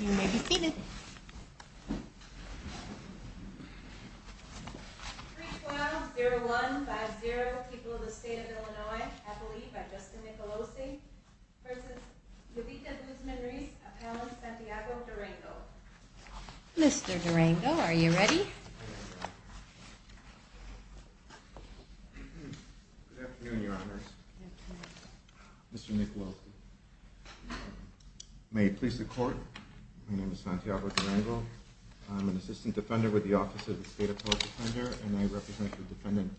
You may be seated. 312-01-50, people of the state of Illinois, I believe, by Justin Nicolosi v. Yovita Guzman-Ruiz, appellant Santiago Durango. Mr. Durango, are you ready? Good afternoon, Your Honors. Mr. Nicolosi, may it please the Court, my name is Santiago Durango, I'm an assistant defender with the Office of the State Appellate Defender, and I represent the defendant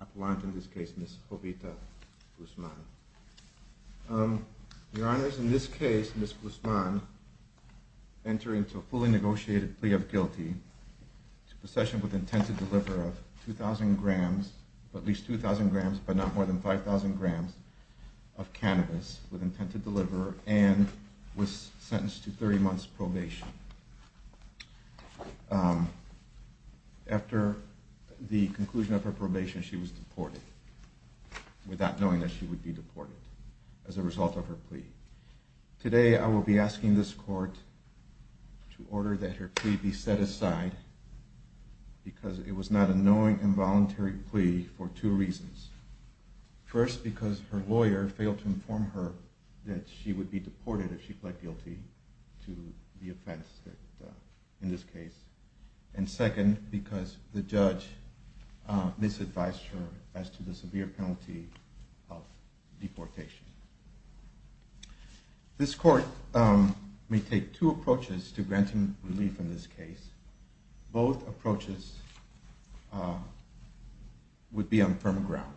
appellant, in this case, Ms. Yovita Guzman. Your Honors, in this case, Ms. Guzman, entering to a fully negotiated plea of guilty to possession with intent to deliver of 2,000 grams, at least 2,000 grams, but not more than 5,000 grams, of cannabis with intent to deliver, and was sentenced to 30 months' probation. After the conclusion of her probation, she was deported, without knowing that she would be deported, as a result of her plea. Today, I will be asking this Court to order that her plea be set aside, because it was not a knowing, involuntary plea for two reasons. First, because her lawyer failed to inform her that she would be deported if she pled guilty to the offense in this case. And second, because the judge misadvised her as to the severe penalty of deportation. This Court may take two approaches to granting relief in this case. Both approaches would be on firm ground.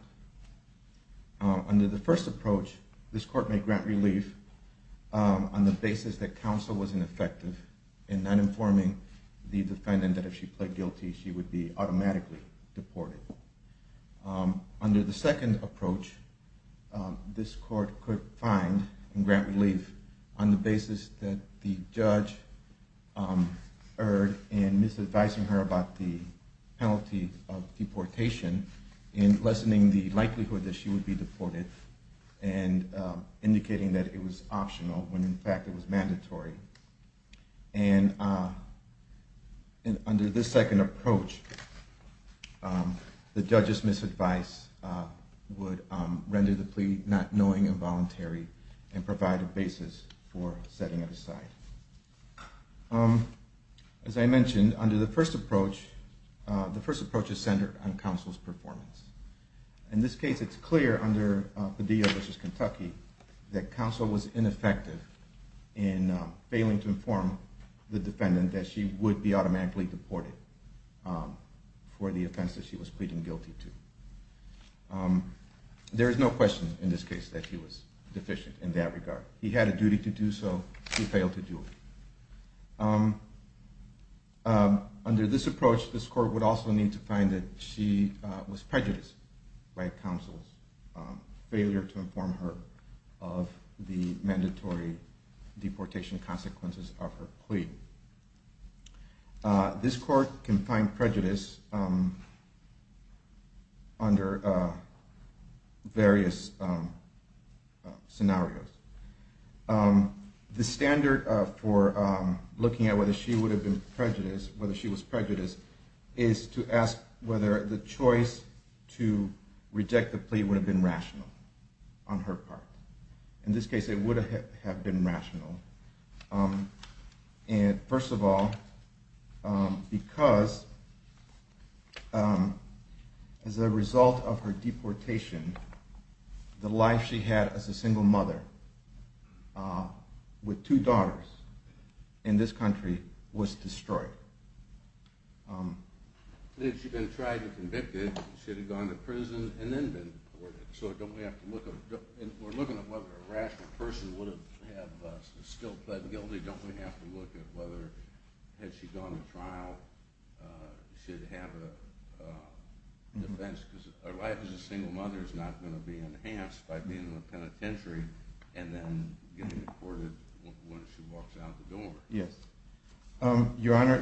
Under the first approach, this Court may grant relief on the basis that counsel was ineffective in not informing the defendant that if she pled guilty, she would be automatically deported. Under the second approach, this Court could find and grant relief on the basis that the judge erred in misadvising her about the penalty of deportation in lessening the likelihood that she would be deported, and indicating that it was optional, when in fact it was mandatory. And under this second approach, the judge's misadvice would render the plea not knowing, involuntary, and provide a basis for setting it aside. As I mentioned, under the first approach, the first approach is centered on counsel's performance. In this case, it's clear under Padilla v. Kentucky that counsel was ineffective in failing to inform the defendant that she would be automatically deported for the offense that she was pleading guilty to. There is no question in this case that he was deficient in that regard. He had a duty to do so. He failed to do it. Under this approach, this Court would also need to find that she was prejudiced by counsel's failure to inform her of the mandatory deportation consequences of her plea. This Court can find prejudice under various scenarios. The standard for looking at whether she would have been prejudiced, whether she was prejudiced, is to ask whether the choice to reject the plea would have been rational on her part. In this case, it would have been rational. And first of all, because as a result of her deportation, the life she had as a single mother with two daughters in this country was destroyed. Had she been tried and convicted, she would have gone to prison and then been deported. So we're looking at whether a rational person would have still pleaded guilty. Don't we have to look at whether, had she gone to trial, she'd have a defense? Because a life as a single mother is not going to be enhanced by being in a penitentiary and then getting deported when she walks out the door. Yes. Your Honor,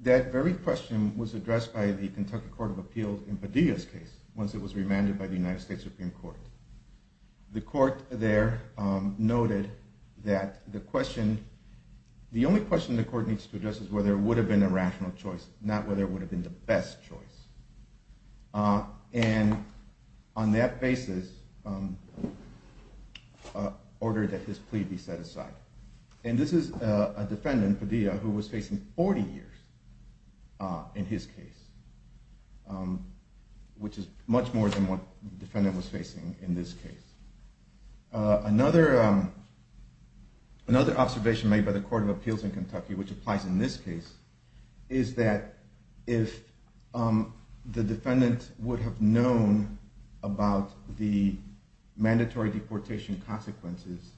that very question was addressed by the Kentucky Court of Appeals in Padilla's case once it was remanded by the United States Supreme Court. The Court there noted that the question, the question the Court needs to address is whether it would have been a rational choice, not whether it would have been the best choice. And on that basis, ordered that his plea be set aside. And this is a defendant, Padilla, who was facing 40 years in his case, which is much more than what the defendant was facing in this case. Another observation made by the Court of Appeals in Kentucky, which applies in this case, is that if the defendant would have known about the mandatory deportation consequences,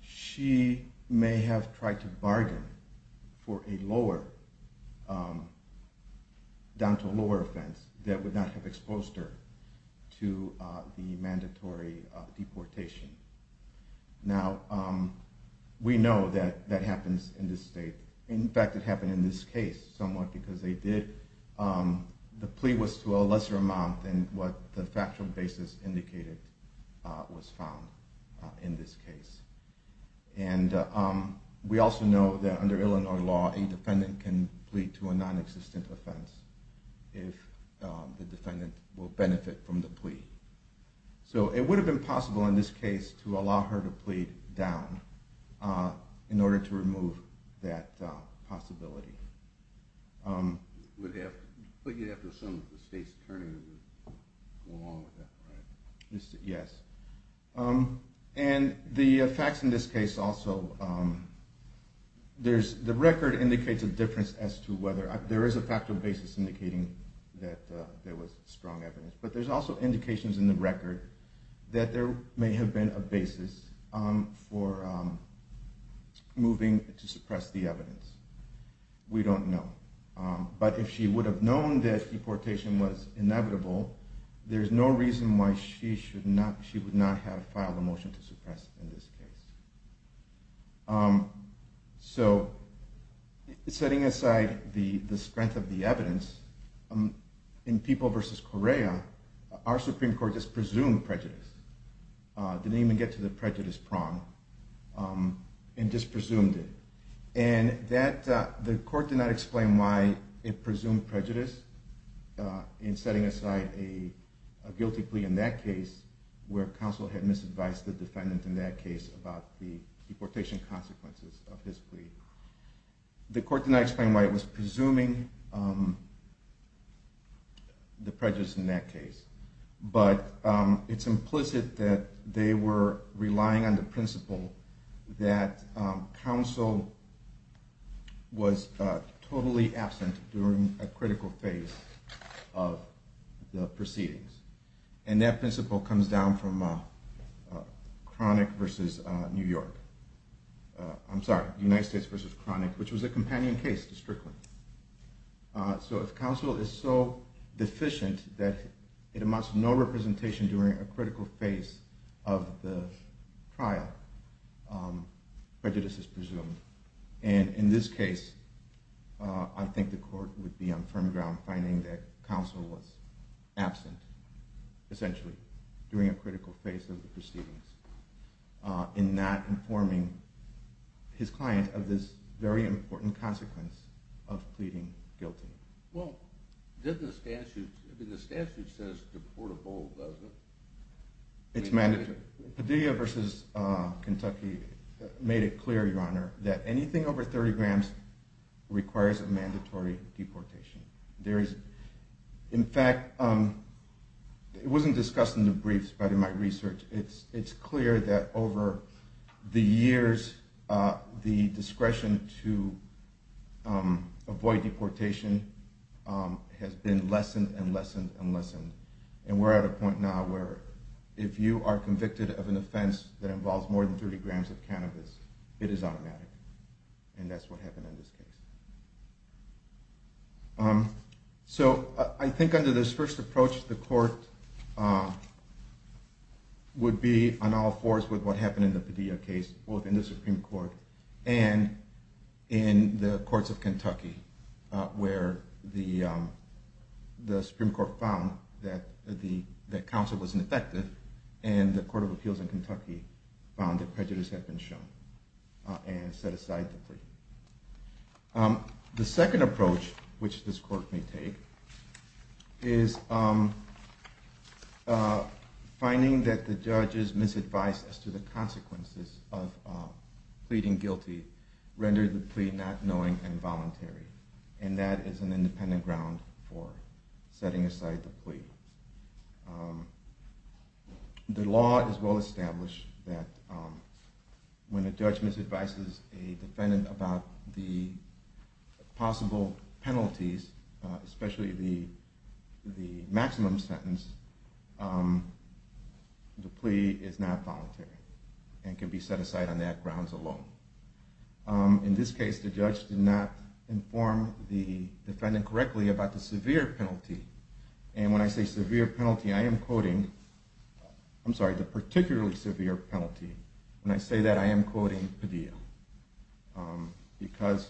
she may have tried to bargain for a lower, down to a lower offense, that would not have exposed her to the mandatory deportation. Now, we know that that happens in this state. In fact, it happened in this case somewhat because they did, the plea was to a lesser amount than what the factual basis indicated was found in this case. A defendant can plead to a non-existent offense if the defendant will benefit from the plea. So it would have been possible in this case to allow her to plead down in order to remove that possibility. But you'd have to assume that the state's attorney would go along with that, right? Yes. And the facts in this case also, there's, the record indicates a difference as to whether, there is a factual basis indicating that there was strong evidence, but there's also indications in the record that there may have been a basis for moving to suppress the evidence. We don't know. But if she would have known that deportation was inevitable, there's no reason why she should not, she would not have filed a motion to suppress in this case. So setting aside the strength of the evidence, in People v. Correa, our Supreme Court just presumed prejudice, didn't even get to the prejudice prong, and just presumed it. And that, the court did not explain why it presumed prejudice in setting aside a guilty plea in that case where counsel had misadvised the deportation consequences of his plea. The court did not explain why it was presuming the prejudice in that case. But it's implicit that they were relying on the principle that counsel was totally absent during a critical phase of the proceedings. And that principle comes down from chronic versus New York. I'm sorry, United States versus chronic, which was a companion case to Strickland. So if counsel is so deficient that it amounts to no representation during a critical phase of the trial, prejudice is presumed. And in this case, I think the court would be on firm ground finding that counsel was absent, essentially, during a critical phase of the proceedings in not informing his client of this very important consequence of pleading guilty. Well, the statute says deportable, doesn't it? It's mandatory. Padilla versus Kentucky made it clear, Your Honor, that anything over 30 grams requires a mandatory deportation. In fact, it wasn't discussed in the briefs, but in my research, it's clear that over the years, the discretion to avoid deportation has been lessened and lessened and lessened. And we're at a point now where if you are convicted of an offense that involves more than 30 grams of cannabis, it is automatic. And that's what happened in this case. So I think under this first approach, the court would be on all fours with what happened in the Padilla case, both in the Supreme Court and in the courts of Kentucky, where the Supreme Court found that counsel was ineffective, and the Court of Appeals in Kentucky found that prejudice had been shown and set aside the plea. The second approach which this court may take is finding that the judge's misadvice as to the consequences of pleading guilty rendered the plea not knowing and voluntary, for setting aside the plea. The law is well established that when a judge misadvises a defendant about the possible penalties, especially the maximum sentence, the plea is not voluntary and can be set aside on that grounds alone. In this case, the judge did not inform the defendant correctly about the severe penalty. And when I say severe penalty, I am quoting, I'm sorry, the particularly severe penalty. When I say that, I am quoting Padilla, because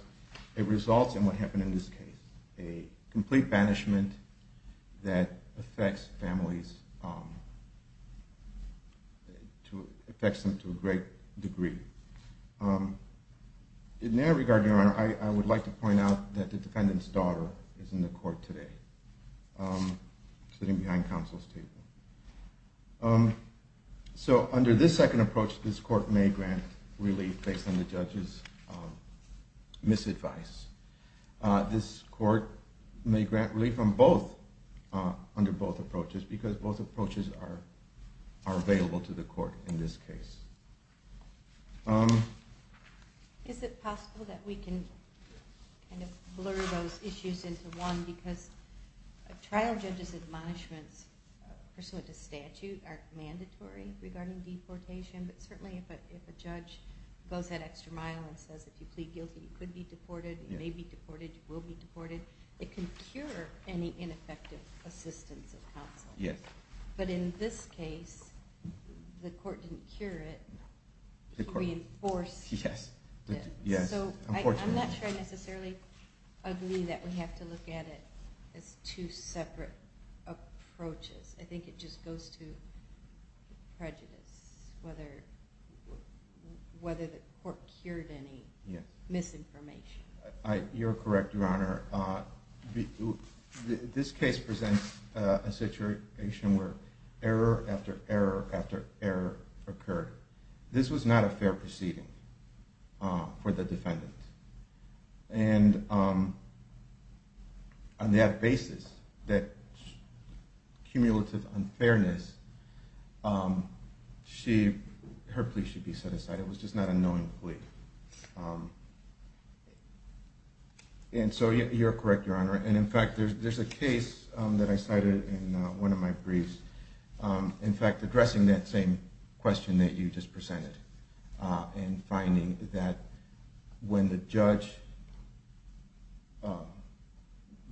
it results in what happened in this case, a complete banishment that affects families, affects them to a great degree. In that regard, Your Honor, I would like to point out that the defendant's daughter is in the court today, sitting behind counsel's table. So under this second approach, this court may grant relief based on the judge's misadvice. This court may grant relief under both approaches because both approaches are available to the court in this case. Is it possible that we can blur those issues into one? Because a trial judge's admonishments pursuant to statute are mandatory regarding deportation, but certainly if a judge goes that extra mile and says if you plead guilty, you could be deported, you may be deported, you will be deported, it can cure any ineffective assistance of counsel. Yes. But in this case, the court didn't cure it, it reinforced it. Yes. So I'm not sure I necessarily agree that we have to look at it as two separate approaches. I think it just goes to prejudice, You're correct, Your Honor. This case presents a situation where error after error after error occurred. This was not a fair proceeding for the defendant. And on that basis, that cumulative unfairness, her plea should be set aside. It was just not a knowing plea. And so you're correct, Your Honor. And, in fact, there's a case that I cited in one of my briefs, in fact, addressing that same question that you just presented in finding that when the judge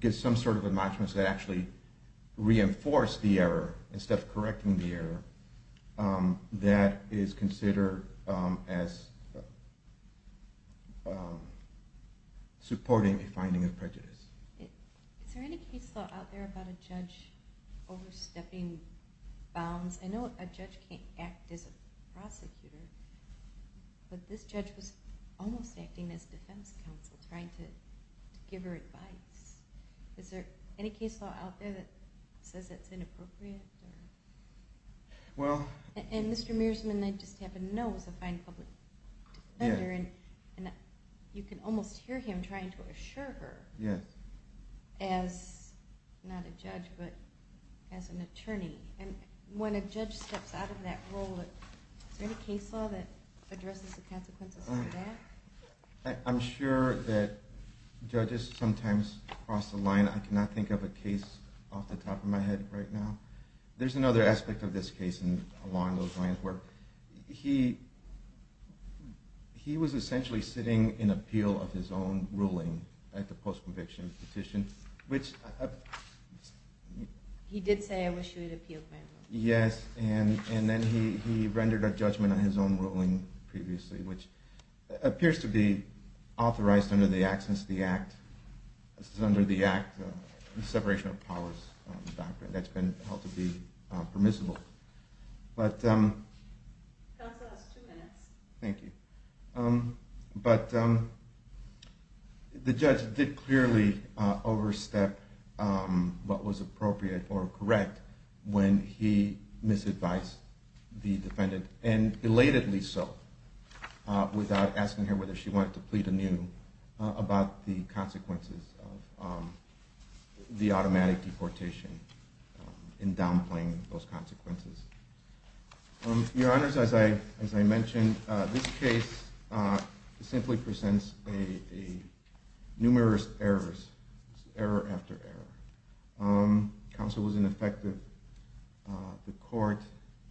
gives some sort of admonishments that actually reinforce the error instead of correcting the error, that is considered as supporting a finding of prejudice. Is there any case law out there about a judge overstepping bounds? I know a judge can't act as a prosecutor, but this judge was almost acting as defense counsel, trying to give her advice. Is there any case law out there that says that's inappropriate? And Mr. Mearsman, I just happen to know, is a fine public defender, and you can almost hear him trying to assure her as not a judge but as an attorney. And when a judge steps out of that role, is there any case law that addresses the consequences of that? I'm sure that judges sometimes cross the line. I cannot think of a case off the top of my head right now but there's another aspect of this case along those lines where he was essentially sitting in appeal of his own ruling at the post-conviction petition, which... He did say, I wish you had appealed my ruling. Yes, and then he rendered a judgment on his own ruling previously, which appears to be authorized under the Act, under the Act, the Separation of Powers Doctrine, that's been held to be permissible. But... Counsel has two minutes. Thank you. But the judge did clearly overstep what was appropriate or correct when he misadvised the defendant, and belatedly so, without asking her whether she wanted to plead anew about the consequences of the automatic deportation and downplaying those consequences. Your Honors, as I mentioned, this case simply presents numerous errors, error after error. Counsel was ineffective. The court,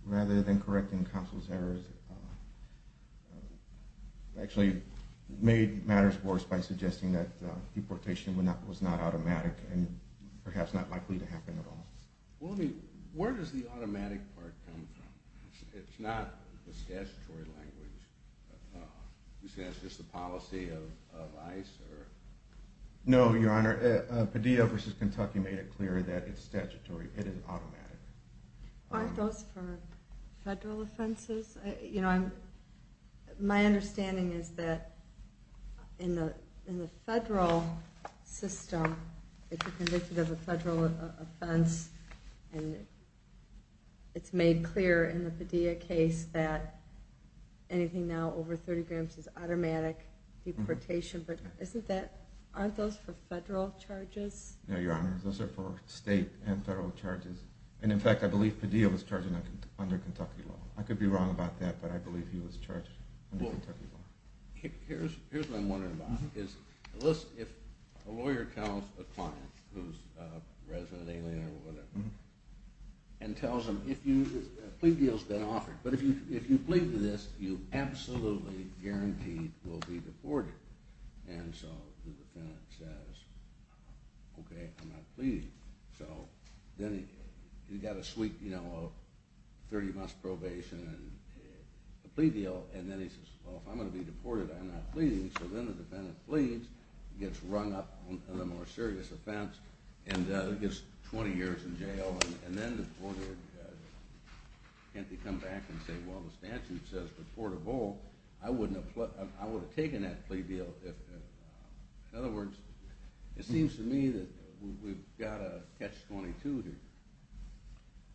rather than correcting counsel's errors, actually made matters worse by suggesting that deportation was not automatic and perhaps not likely to happen at all. Well, I mean, where does the automatic part come from? It's not the statutory language. You say it's just the policy of ICE or...? No, Your Honor. Padilla v. Kentucky made it clear that it's statutory. It is automatic. Aren't those for federal offenses? My understanding is that in the federal system, if you're convicted of a federal offense, it's made clear in the Padilla case that anything now over 30 grams is automatic deportation. But aren't those for federal charges? No, Your Honor, those are for state and federal charges. And, in fact, I believe Padilla was charged under Kentucky law. I could be wrong about that, but I believe he was charged under Kentucky law. Here's what I'm wondering about. If a lawyer counts a client who's a resident alien or whatever and tells them a plea deal has been offered, but if you plead to this, you absolutely guaranteed will be deported. And so the defendant says, okay, I'm not pleading. So then you've got a sweet 30-month probation and a plea deal, and then he says, well, if I'm going to be deported, I'm not pleading. So then the defendant pleads, gets rung up on a more serious offense, and gets 20 years in jail, and then deported. Can't they come back and say, well, the statute says deportable. I would have taken that plea deal. In other words, it seems to me that we've got to catch 22 here.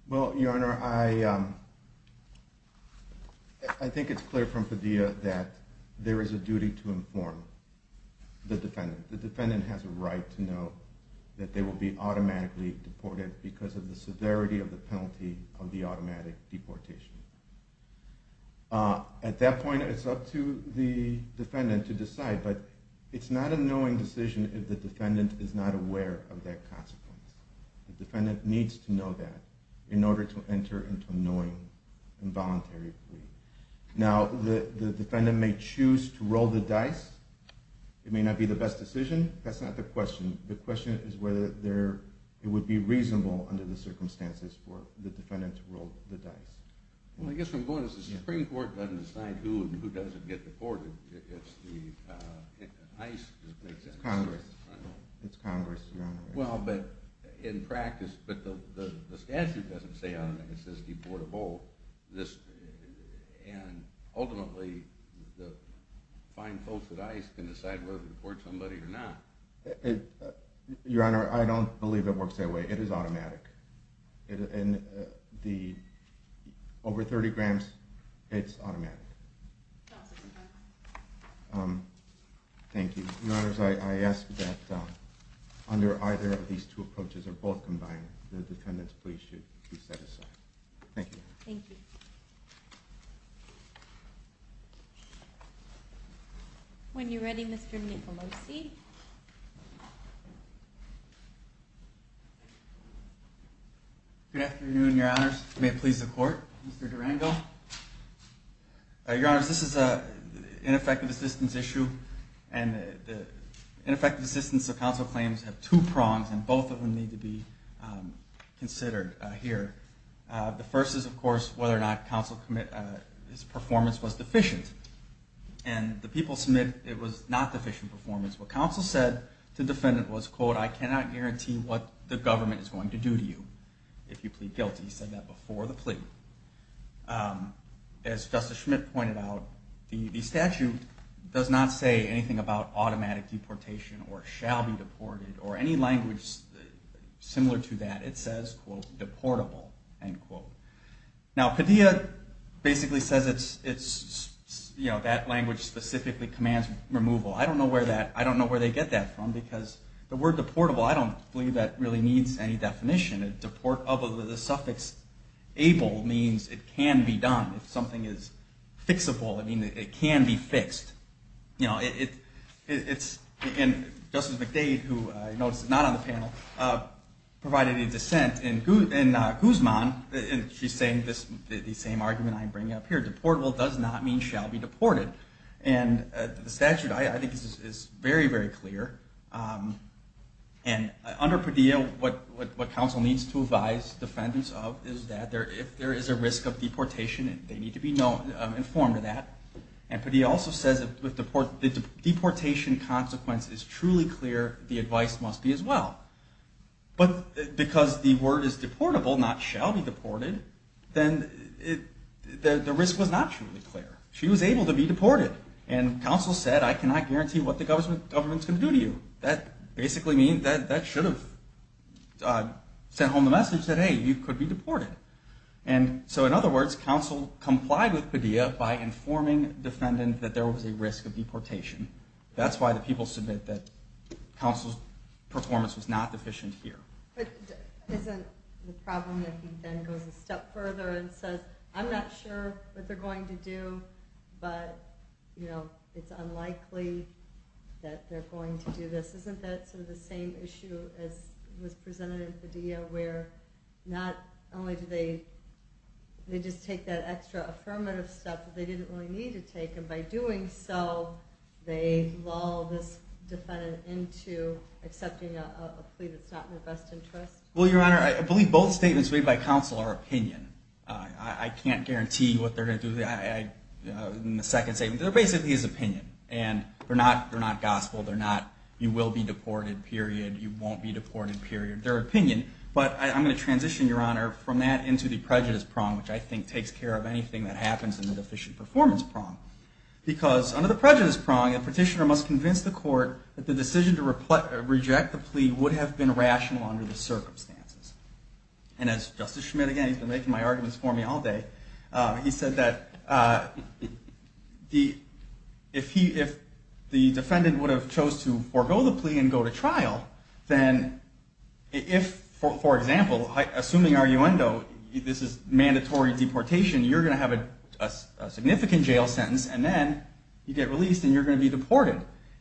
Well, Your Honor, I think it's clear from Padilla that there is a duty to inform the defendant. The defendant has a right to know that they will be automatically deported because of the severity of the penalty of the automatic deportation. At that point, it's up to the defendant to decide, but it's not a knowing decision if the defendant is not aware of that consequence. The defendant needs to know that in order to enter into a knowing involuntary plea. Now, the defendant may choose to roll the dice. It may not be the best decision. That's not the question. The question is whether it would be reasonable under the circumstances for the defendant to roll the dice. Well, I guess from bonus, the Supreme Court doesn't decide who and who doesn't get deported. It's the ICE that makes that decision. It's Congress. It's Congress, Your Honor. Well, but in practice, but the statute doesn't say on it. It says deportable. And ultimately, the fine folks at ICE can decide whether to deport somebody or not. Your Honor, I don't believe it works that way. It is automatic. Over 30 grams, it's automatic. Thank you. Your Honor, I ask that under either of these two approaches or both combined, the defendant's plea should be set aside. Thank you. Thank you. When you're ready, Mr. Nicolosi. Good afternoon, Your Honors. May it please the Court. Mr. Durango. Your Honors, this is an ineffective assistance issue, and the ineffective assistance of counsel claims have two prongs, and both of them need to be considered here. The first is, of course, whether or not counsel's performance was deficient. And the people submit it was not deficient performance. What counsel said to the defendant was, quote, I cannot guarantee what the government is going to do to you if you plead guilty. He said that before the plea. As Justice Schmidt pointed out, the statute does not say anything about automatic deportation or shall be deported or any language similar to that. It says, quote, deportable, end quote. Now, Padilla basically says that language specifically commands removal. I don't know where they get that from because the word deportable, I don't believe that really needs any definition. The suffix able means it can be done. If something is fixable, it means it can be fixed. Justice McDade, who I noticed is not on the panel, provided a dissent in Guzman, and she's saying the same argument I'm bringing up here. Deportable does not mean shall be deported. The statute, I think, is very, very clear. Under Padilla, what counsel needs to advise defendants of is that if there is a risk of deportation, they need to be informed of that. And Padilla also says that the deportation consequence is truly clear. The advice must be as well. But because the word is deportable, not shall be deported, then the risk was not truly clear. She was able to be deported, and counsel said, I cannot guarantee what the government is going to do to you. That basically means that that should have sent home the message that, hey, you could be deported. So in other words, counsel complied with Padilla by informing defendants that there was a risk of deportation. That's why the people submit that counsel's performance was not deficient here. But isn't the problem that he then goes a step further and says, I'm not sure what they're going to do, but it's unlikely that they're going to do this. Isn't that sort of the same issue as was presented in Padilla, where not only do they just take that extra affirmative step that they didn't really need to take, and by doing so they lull this defendant into accepting a plea that's not in their best interest? Well, Your Honor, I believe both statements made by counsel are opinion. I can't guarantee what they're going to do. In the second statement, they're basically his opinion. And they're not gospel. They're not, you will be deported, period, you won't be deported, period. They're opinion. But I'm going to transition, Your Honor, from that into the prejudice prong, which I think takes care of anything that happens in the deficient performance prong. Because under the prejudice prong, a petitioner must convince the court that the decision to reject the plea would have been rational under the circumstances. And as Justice Schmidt, again, he's been making my arguments for me all day, he said that if the defendant would have chose to forego the plea and go to trial, then if, for example, assuming arguendo, this is mandatory deportation, you're going to have a significant jail sentence, and then you get released and you're going to be deported,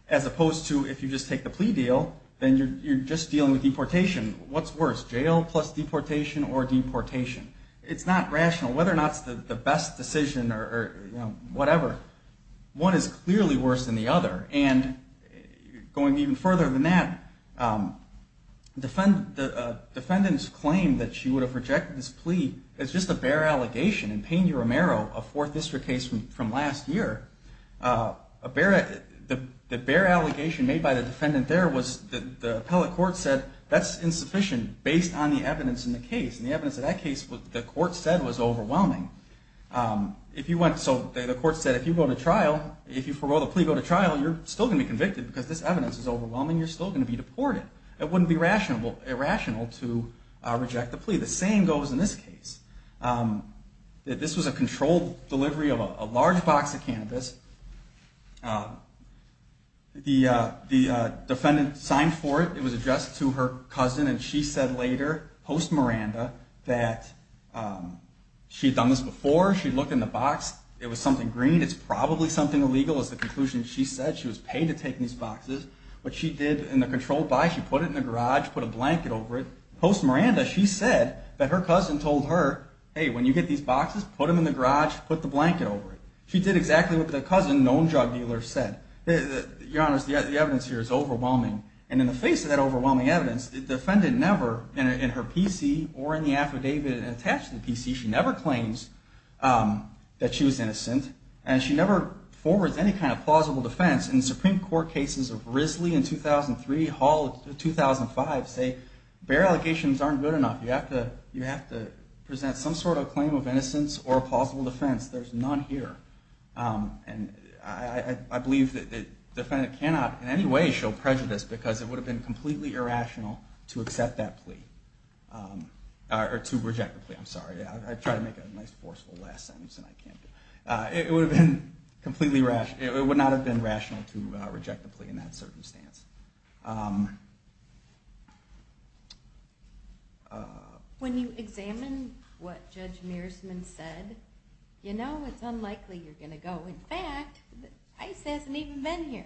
as opposed to if you just take the plea deal, then you're just dealing with deportation. What's worse, jail plus deportation or deportation? It's not rational. Whether or not it's the best decision or whatever, one is clearly worse than the other. And going even further than that, the defendant's claim that she would have rejected this plea is just a bare allegation. In Peña Romero, a Fourth District case from last year, the bare allegation made by the defendant there was that the appellate court said that's insufficient based on the evidence in the case. And the evidence in that case, the court said, was overwhelming. So the court said if you forego the plea and go to trial, you're still going to be convicted because this evidence is overwhelming. You're still going to be deported. It wouldn't be irrational to reject the plea. The same goes in this case. This was a controlled delivery of a large box of cannabis. The defendant signed for it. It was addressed to her cousin. And she said later, post-Miranda, that she had done this before. She looked in the box. It was something green. It's probably something illegal is the conclusion she said. She was paid to take these boxes. What she did in the controlled buy, she put it in the garage, put a blanket over it. Post-Miranda, she said that her cousin told her, hey, when you get these boxes, put them in the garage, put the blanket over it. She did exactly what the cousin, known drug dealer, said. Your Honor, the evidence here is overwhelming. And in the face of that overwhelming evidence, the defendant never, in her PC or in the affidavit attached to the PC, she never claims that she was innocent. And she never forwards any kind of plausible defense. In Supreme Court cases of Risley in 2003, Hall in 2005, say, bare allegations aren't good enough. You have to present some sort of claim of innocence or a plausible defense. There's none here. And I believe that the defendant cannot in any way show prejudice, because it would have been completely irrational to accept that plea, or to reject the plea. I'm sorry. I tried to make a nice forceful last sentence, and I can't do it. It would not have been rational to reject the plea in that circumstance. When you examine what Judge Mearsman said, you know it's unlikely you're going to go. In fact, ICE hasn't even been here.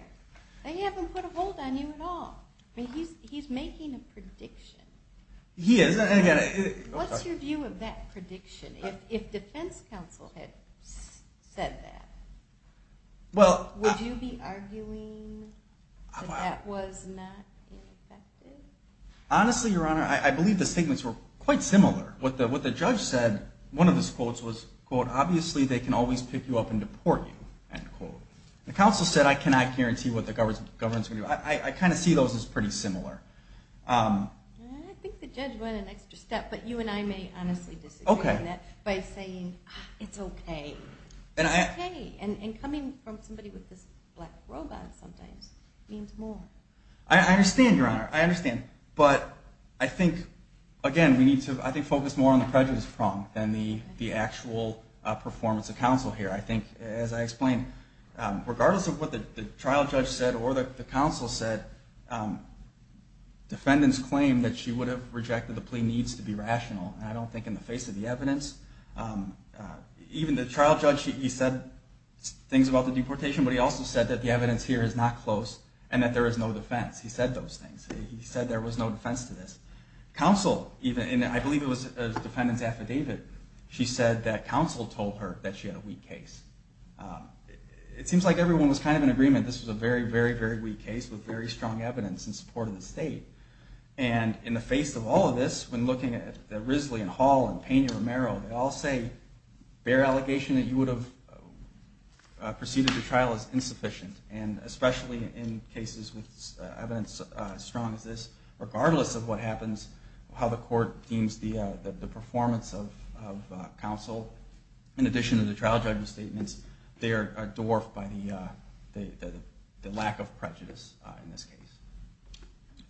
They haven't put a hold on you at all. I mean, he's making a prediction. He is. What's your view of that prediction, if defense counsel had said that? Would you be arguing that that was a reasonable decision? That it was not ineffective? Honestly, Your Honor, I believe the statements were quite similar. What the judge said, one of his quotes was, quote, obviously they can always pick you up and deport you, end quote. The counsel said I cannot guarantee what the government is going to do. I kind of see those as pretty similar. I think the judge went an extra step. But you and I may honestly disagree on that by saying it's okay. It's okay. And coming from somebody with this black robe on sometimes means more. I understand, Your Honor. I understand. But I think, again, we need to focus more on the prejudice prong than the actual performance of counsel here. I think, as I explained, regardless of what the trial judge said or the counsel said, defendants claim that she would have rejected the plea needs to be rational, and I don't think in the face of the evidence. Even the trial judge, he said things about the deportation, but he also said that the evidence here is not close and that there is no defense. He said those things. He said there was no defense to this. Counsel, I believe it was the defendant's affidavit, she said that counsel told her that she had a weak case. It seems like everyone was kind of in agreement this was a very, very, very weak case with very strong evidence in support of the state. And in the face of all of this, when looking at Risley and Hall and Pena-Romero, they all say their allegation that you would have proceeded the trial is insufficient. And especially in cases with evidence as strong as this, regardless of what happens, how the court deems the performance of counsel, in addition to the trial judge's statements, they are dwarfed by the lack of prejudice in this case.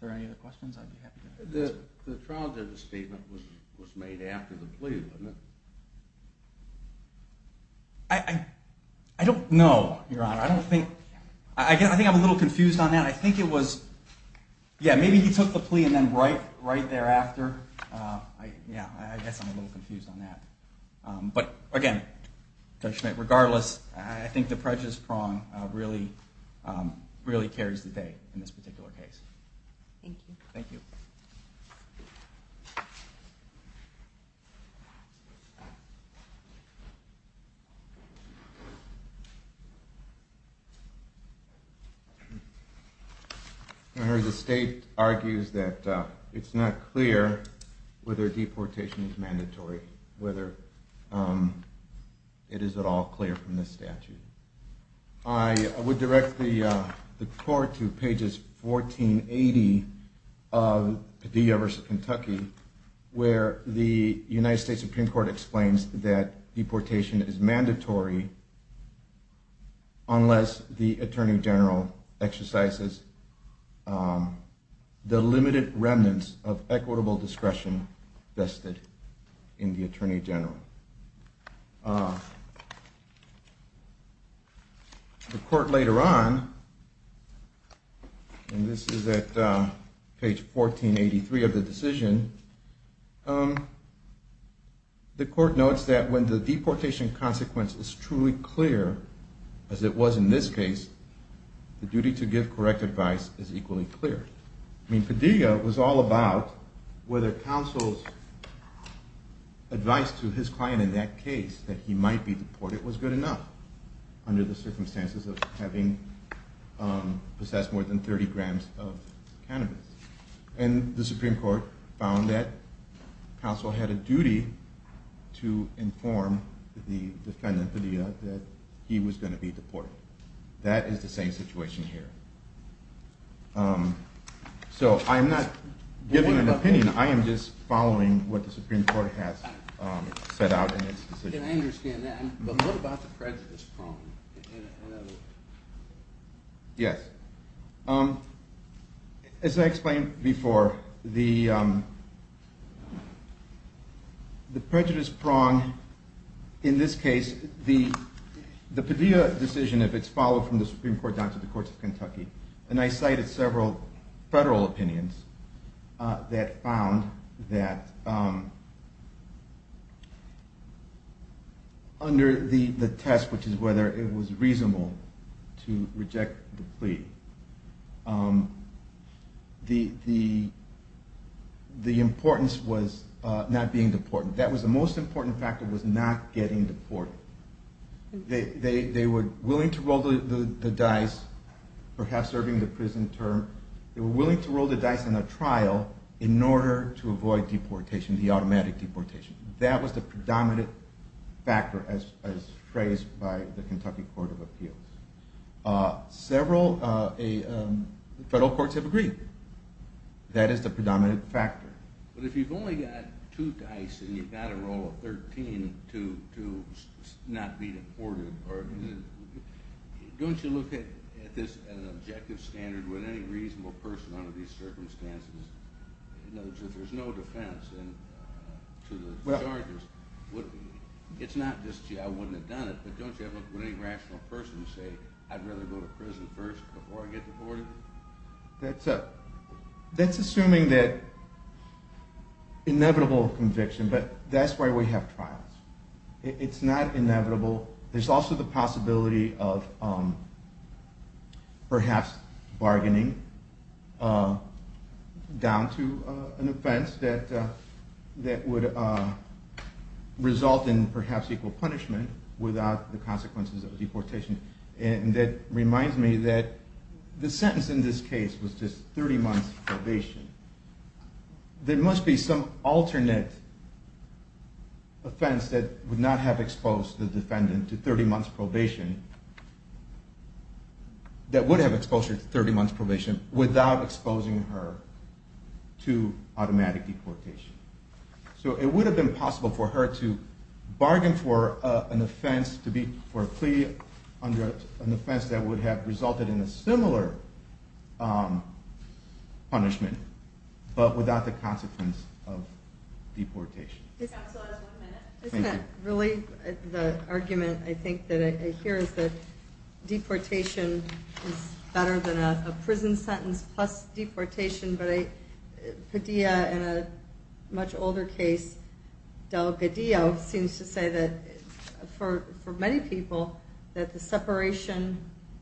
Are there any other questions? The trial judge's statement was made after the plea, wasn't it? I don't know, Your Honor. I think I'm a little confused on that. I think it was, yeah, maybe he took the plea and then right thereafter. Yeah, I guess I'm a little confused on that. But again, Judge Schmidt, regardless, I think the prejudice prong really carries the day in this particular case. Thank you. Thank you. Your Honor, the state argues that it's not clear whether deportation is mandatory, whether it is at all clear from this statute. I would direct the court to pages 1480 of Padilla v. Kentucky, where the United States Supreme Court explains that deportation is mandatory unless the attorney general exercises the limited remnants of equitable discretion vested in the attorney general. The court later on, and this is at page 1483 of the decision, the court notes that when the deportation consequence is truly clear, as it was in this case, the duty to give correct advice is equally clear. I mean, Padilla was all about whether counsel's advice to his client in that case that he might be deported was good enough under the circumstances of having possessed more than 30 grams of cannabis. And the Supreme Court found that counsel had a duty to inform the defendant, Padilla, that he was going to be deported. That is the same situation here. So I'm not giving an opinion. I am just following what the Supreme Court has set out in its decision. And I understand that, but what about the prejudice prong? Yes. As I explained before, the prejudice prong in this case, the Padilla decision, if it's followed from the Supreme Court down to the courts of Kentucky, and I cited several federal opinions that found that under the test, which is whether it was reasonable to reject the plea, the importance was not being deported. That was the most important factor was not getting deported. They were willing to roll the dice, perhaps serving the prison term. They were willing to roll the dice in a trial in order to avoid deportation, the automatic deportation. That was the predominant factor as phrased by the Kentucky Court of Appeals. Several federal courts have agreed. That is the predominant factor. But if you've only got two dice and you've got to roll a 13 to not be deported, don't you look at this as an objective standard with any reasonable person under these circumstances? In other words, if there's no defense to the charges, it's not just, gee, I wouldn't have done it, but don't you ever look with any rational person and say, I'd rather go to prison first before I get deported? That's assuming that inevitable conviction, but that's why we have trials. It's not inevitable. There's also the possibility of perhaps bargaining down to an offense that would result in perhaps equal punishment without the consequences of deportation. And that reminds me that the sentence in this case was just 30 months probation. There must be some alternate offense that would not have exposed the defendant to 30 months probation that would have exposed her to 30 months probation without exposing her to automatic deportation. So it would have been possible for her to bargain for an offense to be for a plea under an offense that would have resulted in a similar punishment but without the consequence of deportation. Counsel has one minute. Isn't that really the argument I think that I hear is that deportation is better than a prison sentence plus deportation, but Padilla in a much older case, Delgadillo, seems to say that for many people that the separation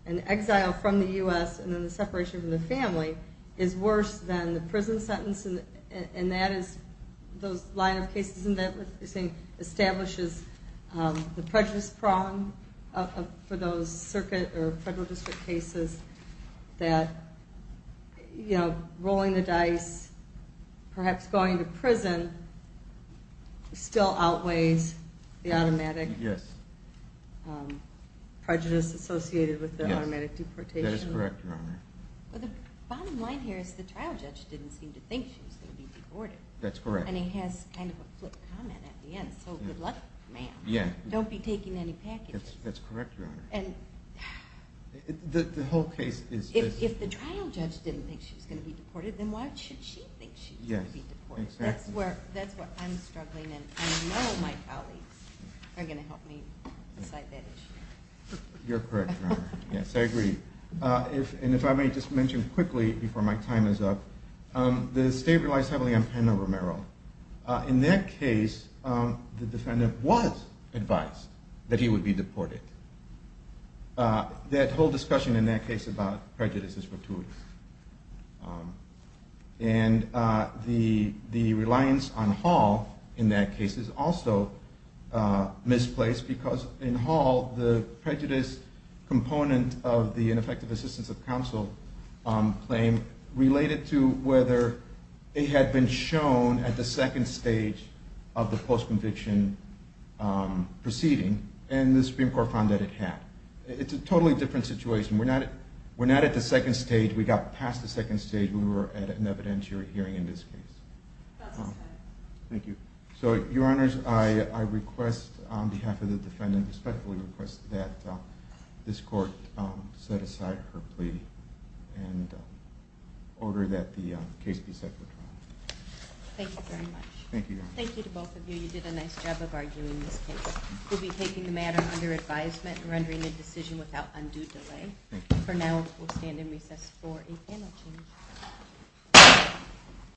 and exile from the US and then the separation from the family is worse than the prison sentence. And that is those line of cases establishes the prejudice prong for those circuit or federal district cases that rolling the dice, perhaps going to prison, still outweighs the automatic prejudice associated with the automatic deportation. That is correct, Your Honor. Well, the bottom line here is the trial judge didn't seem to think she was going to be deported. That's correct. And he has kind of a flip comment at the end, so good luck, ma'am. Don't be taking any packages. That's correct, Your Honor. The whole case is this. If the trial judge didn't think she was going to be deported, then why should she think she's going to be deported? That's where I'm struggling, and I know my colleagues are going to help me decide that issue. You're correct, Your Honor. Yes, I agree. And if I may just mention quickly before my time is up, the state relies heavily on Pena-Romero. In that case, the defendant was advised that he would be deported. That whole discussion in that case about prejudice is fortuitous. And the reliance on Hall in that case is also misplaced because in Hall, the prejudice component of the ineffective assistance of counsel claim related to whether it had been shown at the second stage of the post-conviction proceeding, and the Supreme Court found that it had. It's a totally different situation. We're not at the second stage. We got past the second stage when we were at an evidentiary hearing in this case. That's correct. Thank you. So, Your Honors, I request on behalf of the defendant, respectfully request that this court set aside her plea and order that the case be set for trial. Thank you very much. Thank you, Your Honor. Thank you to both of you. You did a nice job of arguing this case. We'll be taking the matter under advisement and rendering the decision without undue delay. Thank you. For now, we'll stand in recess for a panel change.